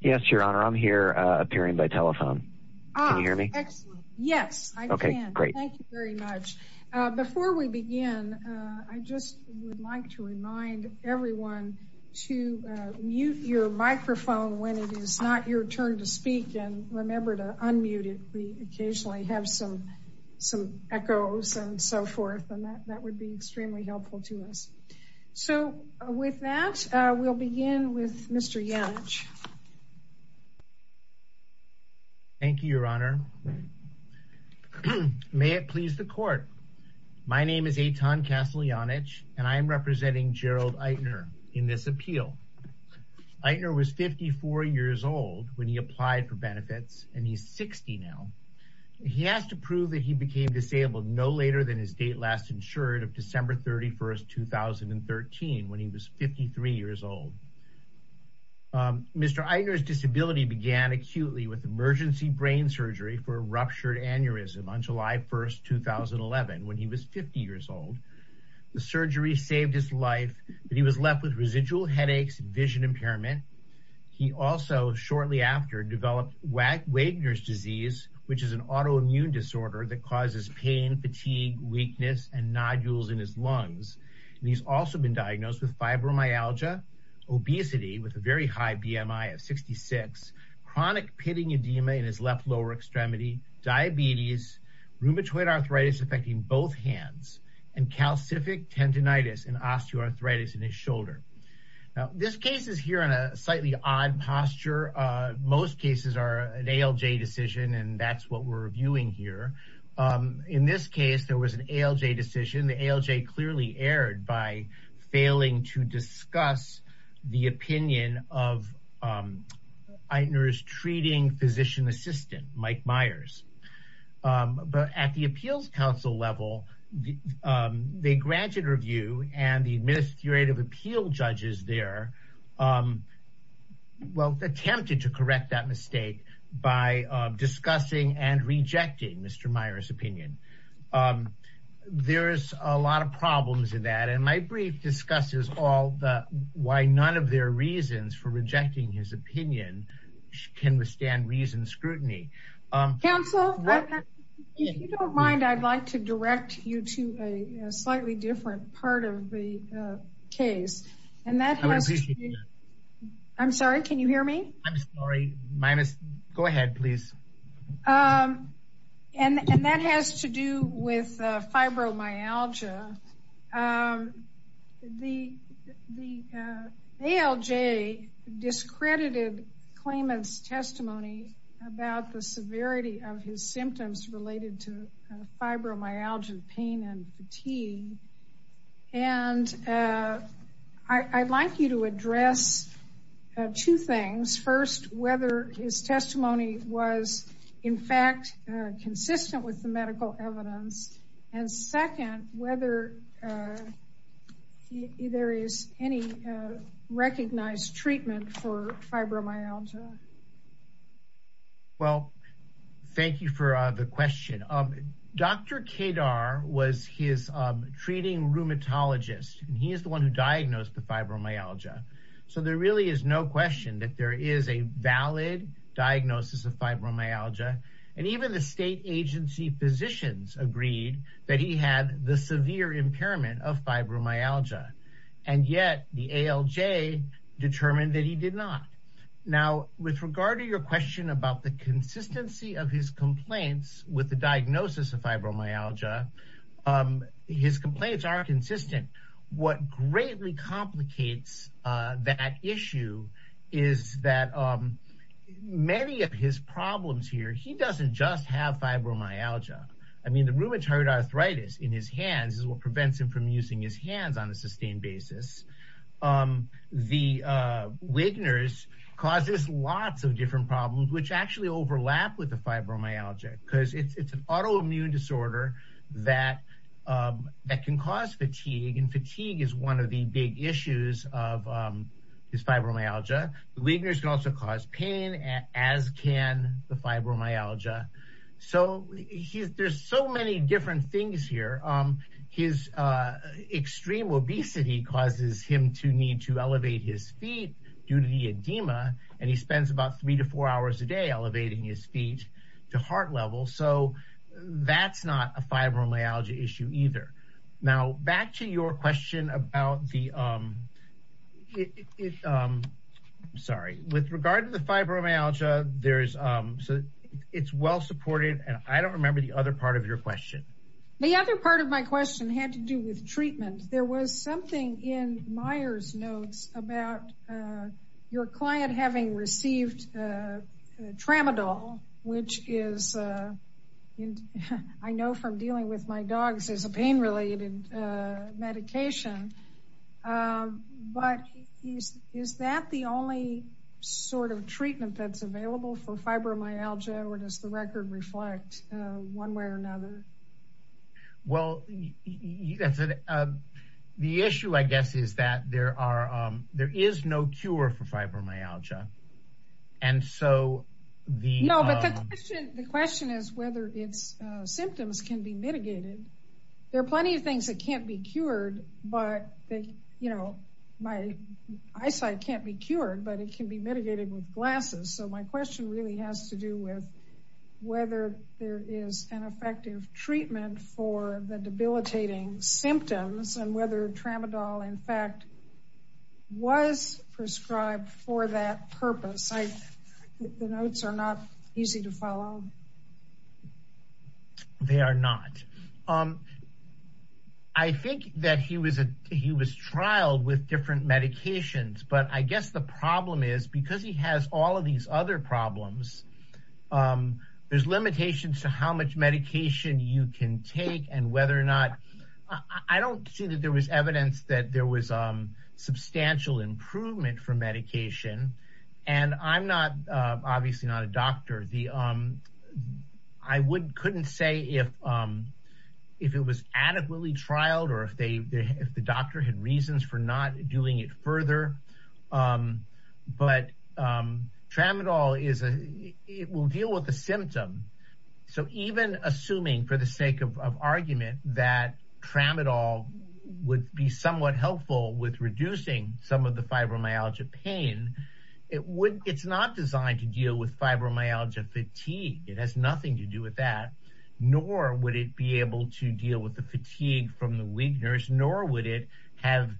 Yes Your Honor, I'm here appearing by telephone. Can you hear me? Yes I can. Thank you very much. Before we begin, I just would like to remind everyone to mute your microphone when it is not your turn to speak and remember to unmute it. We occasionally have some echoes and so forth and that would be extremely helpful to us. So with that, we'll begin with Mr. Janich. Mr. Eitner's disability began acutely with emergency brain surgery for a ruptured aneurysm on July 1, 2011 when he was 50 years old. The surgery saved his life, but he was left with residual headaches, vision impairment. He also shortly after developed Wagner's disease, which is an autoimmune disorder that causes pain, fatigue, weakness, and nodules in his lungs. He's also been diagnosed with fibromyalgia, obesity with a very high BMI of 66, chronic pitting edema in his left lower extremity, diabetes, rheumatoid arthritis affecting both hands, and calcific tendonitis and osteoarthritis in his shoulder. Now this case is here in a slightly odd posture. Most cases are an ALJ decision and that's what we're reviewing here. In this case, there was an ALJ decision. The ALJ clearly erred by failing to discuss the opinion of Eitner's treating physician assistant, Mike Myers. But at the appeals council level, they granted review and the administrative appeal judges there, well, attempted to correct that mistake by discussing and rejecting Mr. Myers' opinion. There's a lot of problems in that and my brief discusses all the, why none of their reasons for rejecting his opinion can withstand reason scrutiny. Council, if you don't mind, I'd like to direct you to a slightly different part of the case. I'm sorry, can you hear me? I'm sorry, go ahead, please. And that has to do with fibromyalgia. The ALJ discredited claimant's testimony about the severity of his symptoms related to fibromyalgia pain and fatigue. And I'd like you to address two things. First, whether his testimony was in fact consistent with the medical evidence. And second, whether there is any recognized treatment for fibromyalgia. Well, thank you for the question. Dr. Kedar was his treating rheumatologist and he is the one who diagnosed the fibromyalgia. So there really is no question that there is a valid diagnosis of fibromyalgia. And even the state agency physicians agreed that he had the severe impairment of fibromyalgia. And yet the ALJ determined that he did not. Now, with regard to your question about the consistency of his complaints with the diagnosis of fibromyalgia, his complaints are consistent. What greatly complicates that issue is that many of his problems here, he doesn't just have fibromyalgia. I mean, the rheumatoid arthritis in his hands is what prevents him from using his hands on a sustained basis. The Wigner's causes lots of different problems, which actually overlap with the fibromyalgia because it's an autoimmune disorder that can cause fatigue. And fatigue is one of the big issues of his fibromyalgia. The Wigner's can also cause pain as can the fibromyalgia. So there's so many different things here. His extreme obesity causes him to need to elevate his feet due to the edema. And he spends about three to four hours a day elevating his feet to heart level. So that's not a fibromyalgia issue either. Now, back to your question about the, sorry, with regard to the fibromyalgia, it's well supported. And I don't remember the other part of your question. The other part of my question had to do with treatment. There was something in Meyers' notes about your client having received Tramadol, which is, I know from dealing with my dogs, is a pain-related medication. But is that the only sort of treatment that's available for fibromyalgia, or does the record reflect one way or another? Well, the issue, I guess, is that there is no cure for fibromyalgia. And so the... debilitating symptoms and whether Tramadol, in fact, was prescribed for that purpose. The notes are not easy to follow. They are not. I think that he was trialed with different medications. But I guess the problem is, because he has all of these other problems, there's limitations to how much medication you can take and whether or not... I don't see that there was evidence that there was substantial improvement for medication. And I'm not, obviously not a doctor. I couldn't say if it was adequately trialed or if the doctor had reasons for not doing it further. But Tramadol, it will deal with the symptom. So even assuming, for the sake of argument, that Tramadol would be somewhat helpful with reducing some of the fibromyalgia pain, it's not designed to deal with fibromyalgia fatigue. It has nothing to do with that. Nor would it be able to deal with the fatigue from the Wigner's. Nor would it have...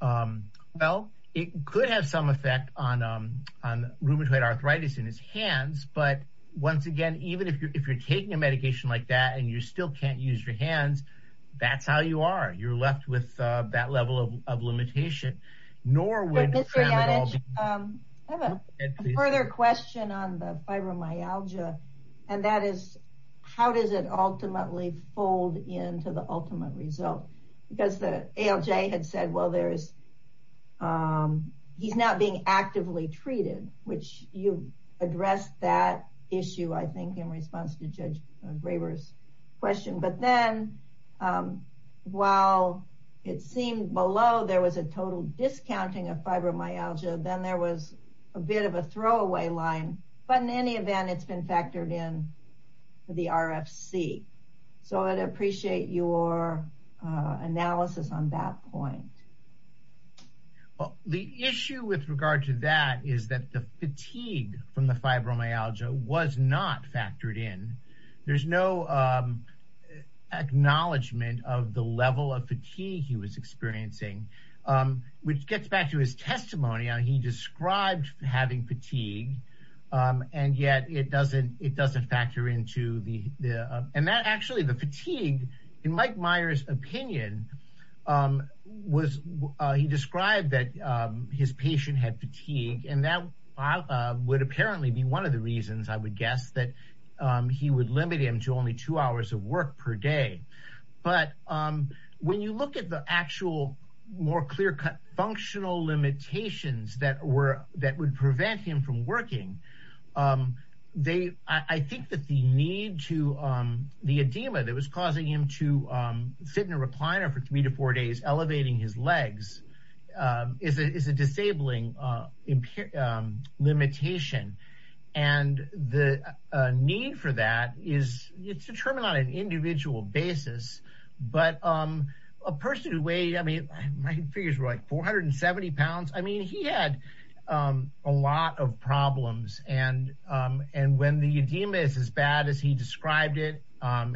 Well, it could have some effect on rheumatoid arthritis in his hands. But once again, even if you're taking a medication like that and you still can't use your hands, that's how you are. You're left with that level of limitation. I have a further question on the fibromyalgia. And that is, how does it ultimately fold into the ultimate result? Because the ALJ had said, well, he's not being actively treated, which you addressed that issue, I think, in response to Judge Graber's question. But then, while it seemed below, there was a total discounting of fibromyalgia, then there was a bit of a throwaway line. But in any event, it's been factored in for the RFC. So I'd appreciate your analysis on that point. Well, the issue with regard to that is that the fatigue from the fibromyalgia was not factored in. There's no acknowledgement of the level of fatigue he was experiencing, which gets back to his testimony. He described having fatigue, and yet it doesn't factor into the... And that actually, the fatigue, in Mike Meyer's opinion, he described that his patient had fatigue. And that would apparently be one of the reasons, I would guess, that he would limit him to only two hours of work per day. But when you look at the actual, more clear-cut functional limitations that would prevent him from working, I think that the need to... The edema that was causing him to sit in a recliner for three to four days, elevating his legs, is a disabling limitation. And the need for that is determined on an individual basis. But a person who weighed, I mean, my figures were like 470 pounds. I mean, he had a lot of problems. And when the edema is as bad as he described it,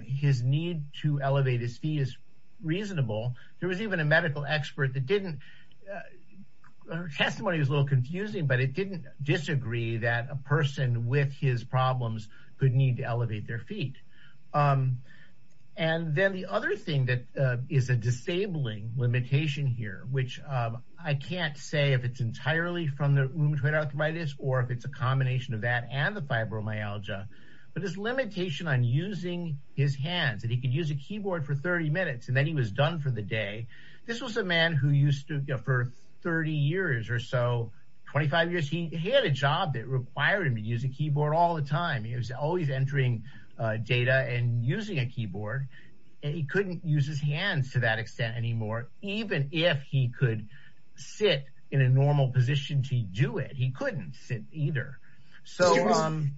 his need to elevate his feet is reasonable. There was even a medical expert that didn't... Her testimony was a little confusing, but it didn't disagree that a person with his problems could need to elevate their feet. And then the other thing that is a disabling limitation here, which I can't say if it's entirely from the rheumatoid arthritis, or if it's a combination of that and the fibromyalgia. But his limitation on using his hands, that he could use a keyboard for 30 minutes, and then he was done for the day. This was a man who used to, for 30 years or so, 25 years. He had a job that required him to use a keyboard all the time. He was always entering data and using a keyboard. And he couldn't use his hands to that extent anymore, even if he could sit in a normal position to do it. He couldn't sit either. Excuse me.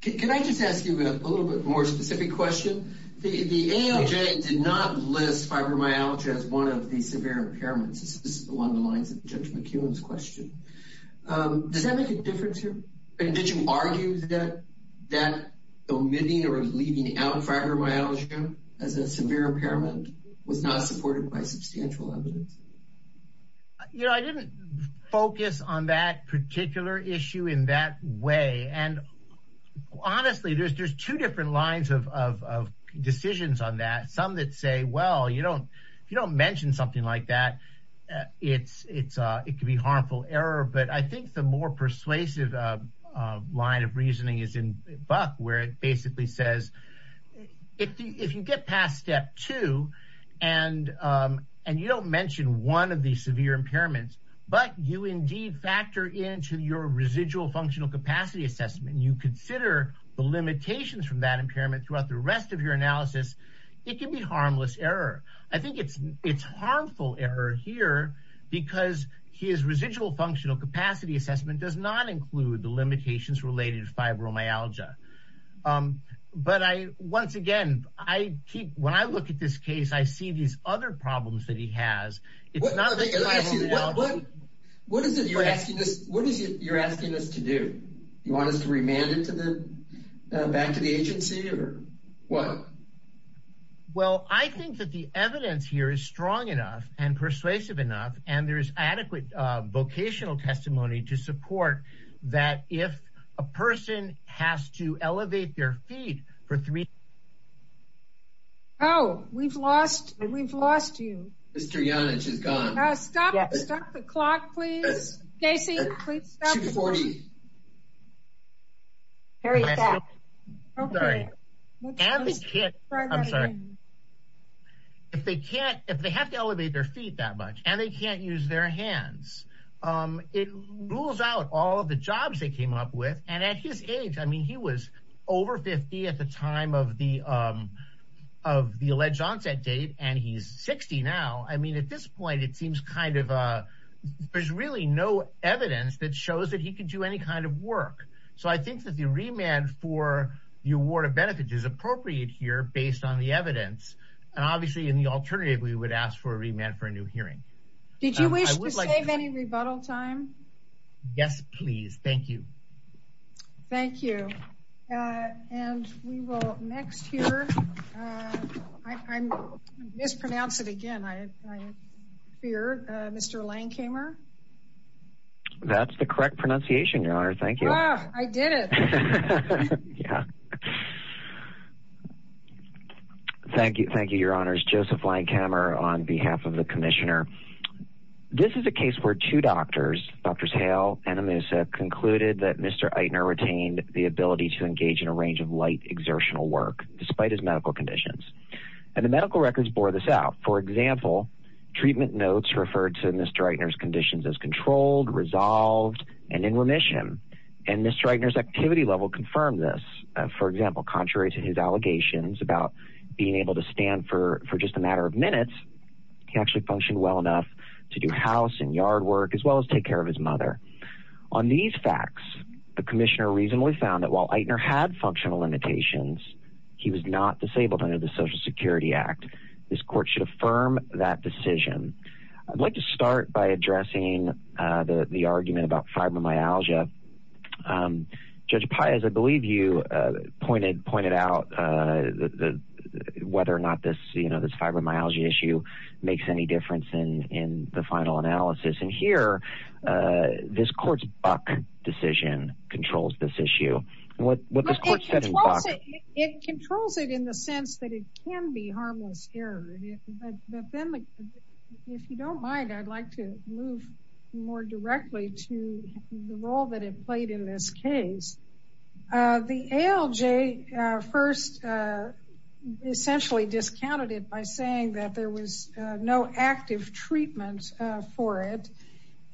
Can I just ask you a little bit more specific question? The ALJ did not list fibromyalgia as one of the severe impairments. This is along the lines of Judge McEwen's question. Does that make a difference here? Did you argue that omitting or leaving out fibromyalgia as a severe impairment was not supported by substantial evidence? I didn't focus on that particular issue in that way. And honestly, there's two different lines of decisions on that. Some that say, well, if you don't mention something like that, it could be harmful error. But I think the more persuasive line of reasoning is in Buck, where it basically says, if you get past step two, and you don't mention one of these severe impairments, but you indeed factor into your residual functional capacity assessment, and you consider the limitations from that impairment throughout the rest of your analysis, it can be harmless error. I think it's harmful error here, because his residual functional capacity assessment does not include the limitations related to fibromyalgia. But once again, when I look at this case, I see these other problems that he has. What is it you're asking us to do? You want us to remand it back to the agency, or what? Well, I think that the evidence here is strong enough and persuasive enough, and there is adequate vocational testimony to support that if a person has to elevate their feet for three... Oh, we've lost you. Mr. Yonage is gone. Stop the clock, please. Casey, please stop the clock. 2.40. Sorry. If they have to elevate their feet that much, and they can't use their hands, it rules out all of the jobs they came up with. And at his age, I mean, he was over 50 at the time of the alleged onset date, and he's 60 now. I mean, at this point, it seems kind of, there's really no evidence that shows that he could do any kind of work. So I think that the remand for the award of benefits is appropriate here based on the evidence. And obviously, in the alternative, we would ask for a remand for a new hearing. Did you wish to save any rebuttal time? Yes, please. Thank you. Thank you. And we will next hear, I mispronounce it again, I fear, Mr. Langhamer. That's the correct pronunciation, Your Honor. Thank you. I did it. Yeah. Thank you. Thank you, Your Honors. Joseph Langhamer on behalf of the commissioner. This is a case where two doctors, Drs. Hale and Amusa, concluded that Mr. Eitner retained the ability to engage in a range of light exertional work despite his medical conditions. And the medical records bore this out. For example, treatment notes referred to Mr. Eitner's conditions as controlled, resolved, and in remission. And Mr. Eitner's activity level confirmed this. For example, contrary to his allegations about being able to stand for just a matter of minutes, he actually functioned well enough to do house and yard work as well as take care of his mother. On these facts, the commissioner reasonably found that while Eitner had functional limitations, he was not disabled under the Social Security Act. This court should affirm that decision. I'd like to start by addressing the argument about fibromyalgia. Judge Pai, as I believe you pointed out, whether or not this fibromyalgia issue makes any difference in the final analysis. And here, this court's Buck decision controls this issue. It controls it in the sense that it can be harmless error. If you don't mind, I'd like to move more directly to the role that it played in this case. The ALJ first essentially discounted it by saying that there was no active treatment for it.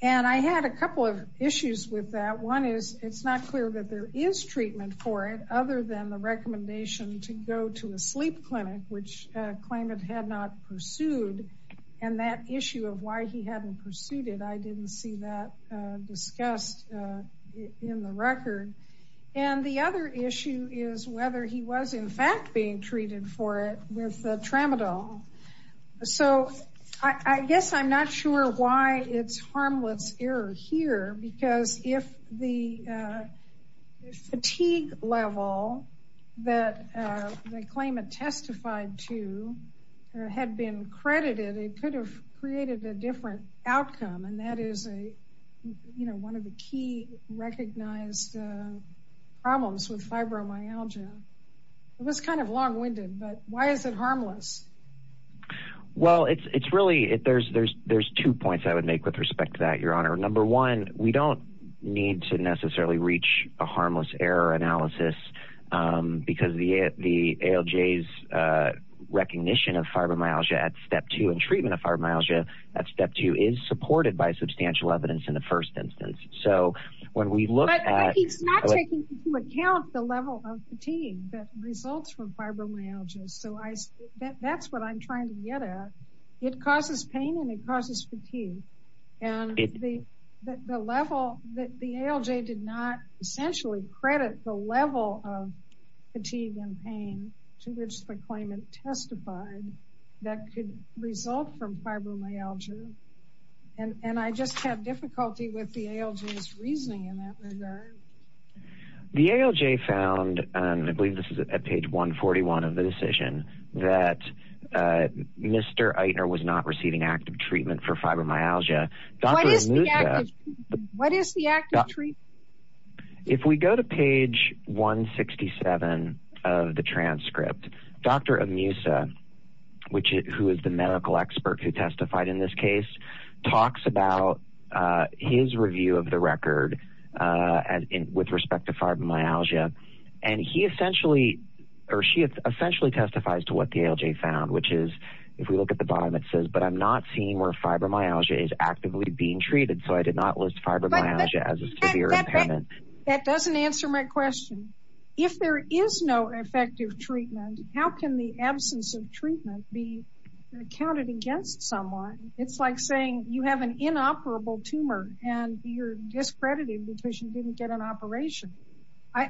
And I had a couple of issues with that. One is it's not clear that there is treatment for it other than the recommendation to go to a sleep clinic, which claimant had not pursued. And that issue of why he hadn't pursued it, I didn't see that discussed in the record. And the other issue is whether he was in fact being treated for it with Tramadol. So I guess I'm not sure why it's harmless error here, because if the fatigue level that the claimant testified to had been credited, it could have created a different outcome, and that is one of the key recognized problems with fibromyalgia. It was kind of long-winded, but why is it harmless? Well, it's really, there's two points I would make with respect to that, Your Honor. Number one, we don't need to necessarily reach a harmless error analysis, because the ALJ's recognition of fibromyalgia at step two, and treatment of fibromyalgia at step two, is supported by substantial evidence in the first instance. So when we look at- But he's not taking into account the level of fatigue that results from fibromyalgia. So that's what I'm trying to get at. It causes pain and it causes fatigue. And the level, the ALJ did not essentially credit the level of fatigue and pain to which the claimant testified that could result from fibromyalgia. And I just have difficulty with the ALJ's reasoning in that regard. The ALJ found, and I believe this is at page 141 of the decision, that Mr. Eitner was not receiving active treatment for fibromyalgia. What is the active treatment? If we go to page 167 of the transcript, Dr. Amusa, who is the medical expert who testified in this case, talks about his review of the record with respect to fibromyalgia, and he essentially, or she essentially testifies to what the ALJ found, which is, if we look at the bottom it says, but I'm not seeing where fibromyalgia is actively being treated, so I did not list fibromyalgia as a severe impairment. That doesn't answer my question. If there is no effective treatment, how can the absence of treatment be counted against someone? It's like saying you have an inoperable tumor and you're discredited because you didn't get an operation.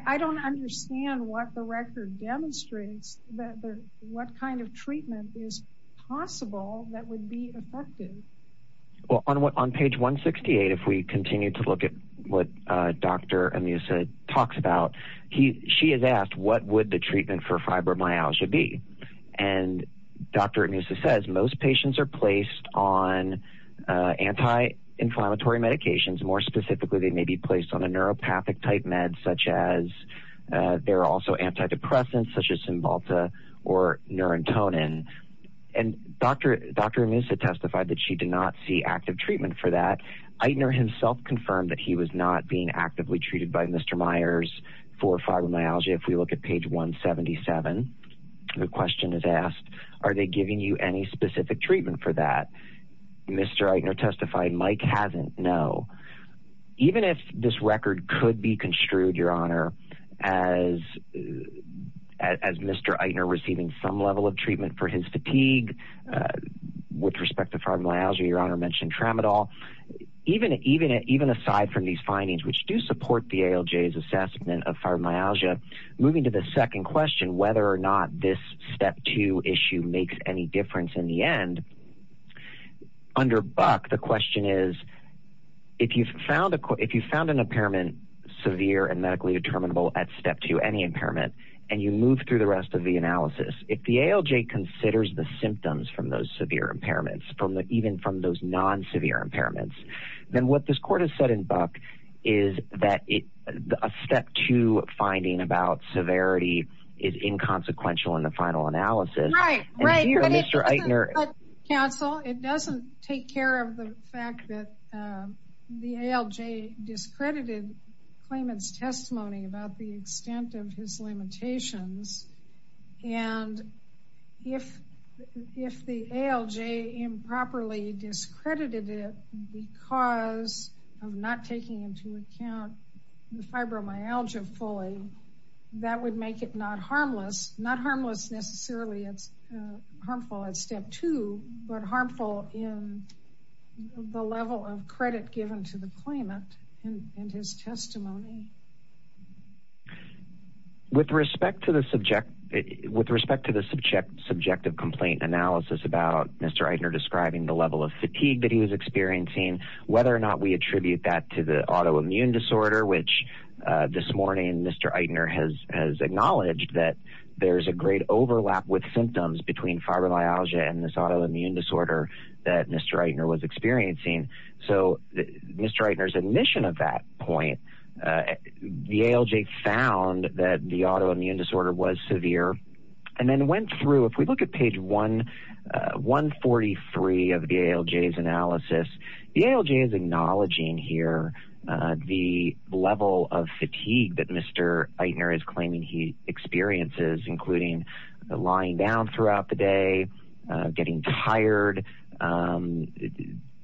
I don't understand what the record demonstrates, what kind of treatment is possible that would be effective. Well, on page 168, if we continue to look at what Dr. Amusa talks about, she has asked what would the treatment for fibromyalgia be? And Dr. Amusa says most patients are placed on anti-inflammatory medications. More specifically, they may be placed on a neuropathic-type meds, such as they're also antidepressants, such as Cymbalta or Neurintonin. And Dr. Amusa testified that she did not see active treatment for that. Eitner himself confirmed that he was not being actively treated by Mr. Myers for fibromyalgia. If we look at page 177, the question is asked, are they giving you any specific treatment for that? Mr. Eitner testified Mike hasn't, no. Even if this record could be construed, Your Honor, as Mr. Eitner receiving some level of treatment for his fatigue with respect to fibromyalgia, Your Honor mentioned Tramadol, even aside from these findings, which do support the ALJ's assessment of fibromyalgia, moving to the second question, whether or not this step two issue makes any difference in the end, under Buck, the question is, if you found an impairment severe and medically determinable at step two, any impairment, and you move through the rest of the analysis, if the ALJ considers the symptoms from those severe impairments, even from those non-severe impairments, then what this court has said in Buck is that a step two finding about severity is inconsequential in the final analysis. Mr. Eitner. Counsel, it doesn't take care of the fact that the ALJ discredited claimant's testimony about the extent of his limitations. And if the ALJ improperly discredited it because of not taking into account the fibromyalgia fully, that would make it not harmless, not harmless necessarily as harmful at step two, but harmful in the level of credit given to the claimant and his testimony. With respect to the subject, with respect to the subjective complaint analysis about Mr. Eitner describing the level of fatigue that he was experiencing, whether or not we attribute that to the autoimmune disorder, which this morning Mr. Eitner has acknowledged that there's a great overlap with symptoms between fibromyalgia and this autoimmune disorder that Mr. Eitner was experiencing. So Mr. Eitner's admission of that point, the ALJ found that the autoimmune disorder was severe, and then went through, if we look at page 143 of the ALJ's analysis, the ALJ is acknowledging here the level of fatigue that Mr. Eitner is claiming he experiences, including lying down throughout the day, getting tired,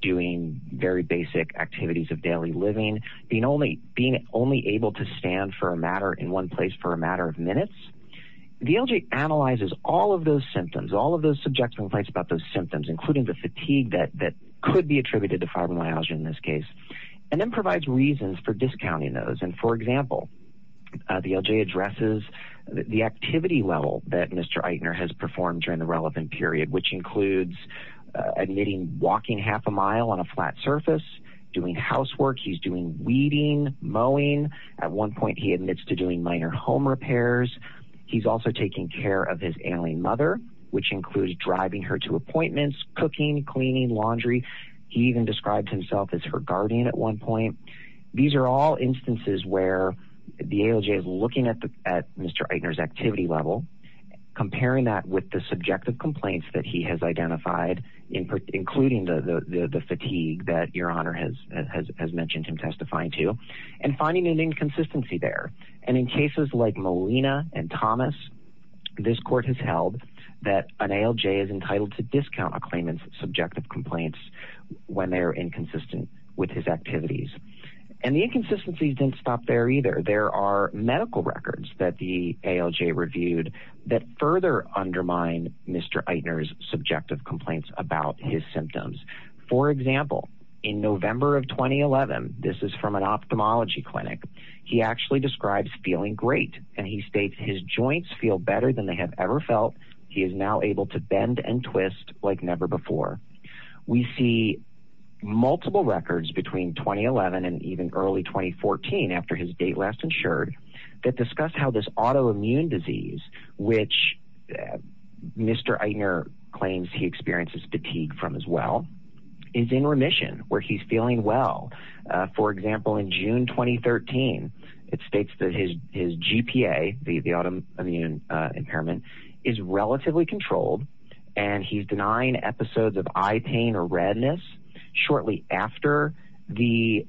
doing very basic activities of daily living, being only able to stand in one place for a matter of minutes. The ALJ analyzes all of those symptoms, all of those subjective complaints about those symptoms, including the fatigue that could be attributed to fibromyalgia in this case, and then provides reasons for discounting those. For example, the ALJ addresses the activity level that Mr. Eitner has performed during the relevant period, which includes admitting walking half a mile on a flat surface, doing housework, he's doing weeding, mowing. At one point he admits to doing minor home repairs. He's also taking care of his ailing mother, which includes driving her to appointments, cooking, cleaning, laundry. He even describes himself as her guardian at one point. These are all instances where the ALJ is looking at Mr. Eitner's activity level, comparing that with the subjective complaints that he has identified, including the fatigue that Your Honor has mentioned him testifying to, and finding an inconsistency there. And in cases like Molina and Thomas, this court has held that an ALJ is entitled to discount a claimant's subjective complaints when they are inconsistent with his activities. And the inconsistencies didn't stop there either. There are medical records that the ALJ reviewed that further undermine Mr. Eitner's subjective complaints about his symptoms. For example, in November of 2011, this is from an ophthalmology clinic, he actually describes feeling great. And he states his joints feel better than they have ever felt. He is now able to bend and twist like never before. We see multiple records between 2011 and even early 2014, after his date last insured, that discuss how this autoimmune disease, which Mr. Eitner claims he experiences fatigue from as well, is in remission, where he's feeling well. For example, in June 2013, it states that his GPA, the autoimmune impairment, is relatively controlled, and he's denying episodes of eye pain or redness. Shortly after the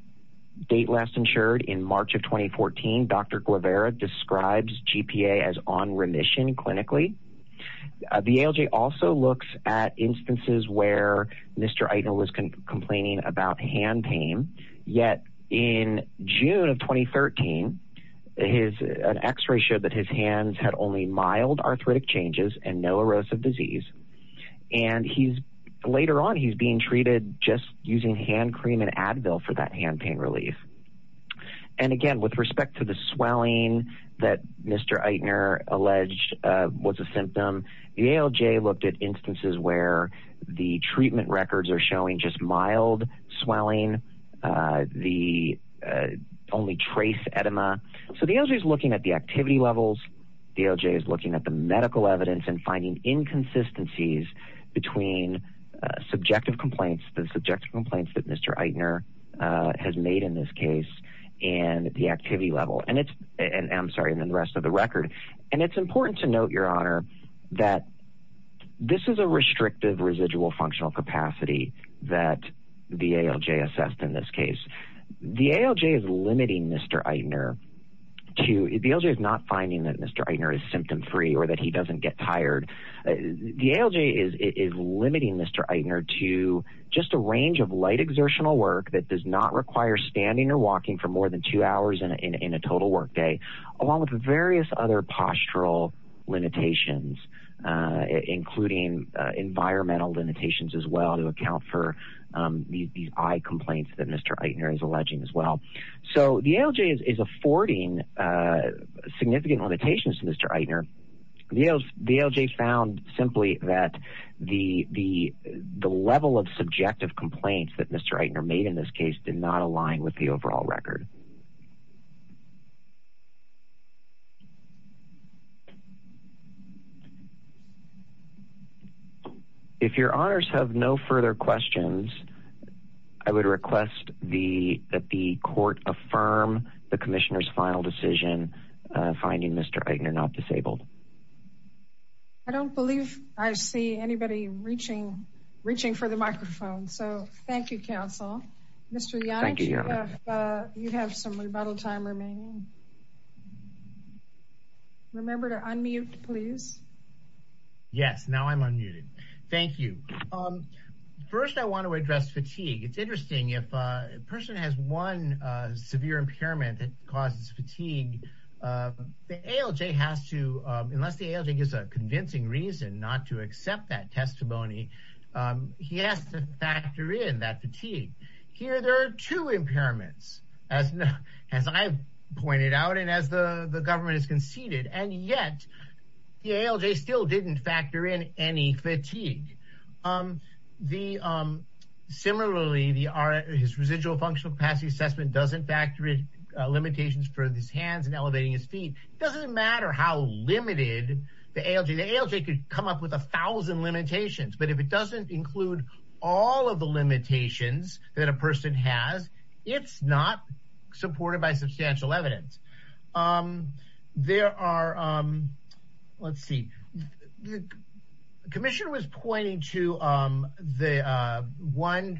date last insured, in March of 2014, Dr. Guevara describes GPA as on remission clinically. The ALJ also looks at instances where Mr. Eitner was complaining about hand pain. Yet, in June of 2013, an x-ray showed that his hands had only mild arthritic changes and no erosive disease. And later on, he's being treated just using hand cream and Advil for that hand pain relief. And again, with respect to the swelling that Mr. Eitner alleged was a symptom, the ALJ looked at instances where the treatment records are showing just mild swelling, the only trace edema. So the ALJ is looking at the activity levels. The ALJ is looking at the medical evidence and finding inconsistencies between subjective complaints, the subjective complaints that Mr. Eitner has made in this case, and the activity level. I'm sorry, and then the rest of the record. And it's important to note, Your Honor, that this is a restrictive residual functional capacity that the ALJ assessed in this case. The ALJ is limiting Mr. Eitner to – the ALJ is not finding that Mr. Eitner is symptom-free or that he doesn't get tired. The ALJ is limiting Mr. Eitner to just a range of light exertional work that does not require standing or walking for more than two hours in a total work day, along with various other postural limitations, including environmental limitations as well, to account for these eye complaints that Mr. Eitner is alleging as well. So the ALJ is affording significant limitations to Mr. Eitner. The ALJ found simply that the level of subjective complaints that Mr. Eitner made in this case did not align with the overall record. If Your Honors have no further questions, I would request that the Court affirm the Commissioner's final decision finding Mr. Eitner not disabled. I don't believe I see anybody reaching for the microphone, so thank you, Counsel. Mr. Yannick, you have some rebuttal time remaining. Remember to unmute, please. Yes, now I'm unmuted. Thank you. First, I want to address fatigue. It's interesting. If a person has one severe impairment that causes fatigue, the ALJ has to – unless the ALJ gives a convincing reason not to accept that testimony, he has to factor in that fatigue. Here, there are two impairments, as I've pointed out and as the government has conceded, and yet the ALJ still didn't factor in any fatigue. Similarly, his residual functional capacity assessment doesn't factor in limitations for his hands and elevating his feet. It doesn't matter how limited the ALJ – the ALJ could come up with a thousand limitations, but if it doesn't include all of the limitations that a person has, it's not supported by substantial evidence. There are – let's see. The Commissioner was pointing to the one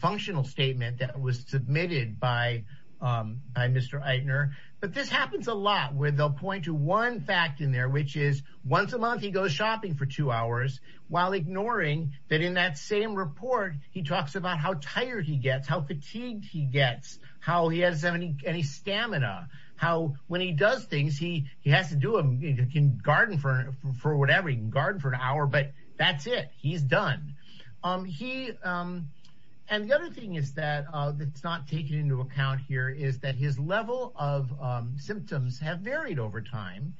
functional statement that was submitted by Mr. Eitner, but this happens a lot where they'll point to one fact in there, which is once a month he goes shopping for two hours while ignoring that in that same report, he talks about how tired he gets, how fatigued he gets, how he has any stamina, how when he does things, he has to do them. He can garden for whatever. He can garden for an hour, but that's it. He's done. He – and the other thing is that's not taken into account here is that his level of symptoms have varied over time,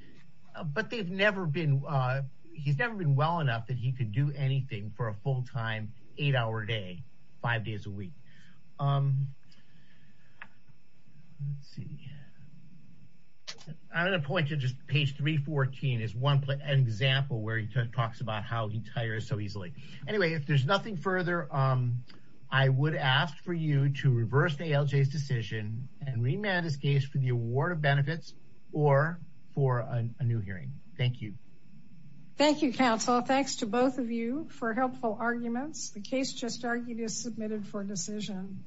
but they've never been – he's never been well enough that he could do anything for a full-time eight-hour day five days a week. Let's see. I'm going to point to just page 314 as one example where he talks about how he tires so easily. Anyway, if there's nothing further, I would ask for you to reverse ALJ's decision and remand his case for the award of benefits or for a new hearing. Thank you. Thank you, counsel. Thanks to both of you for helpful arguments. The case just argued is submitted for decision.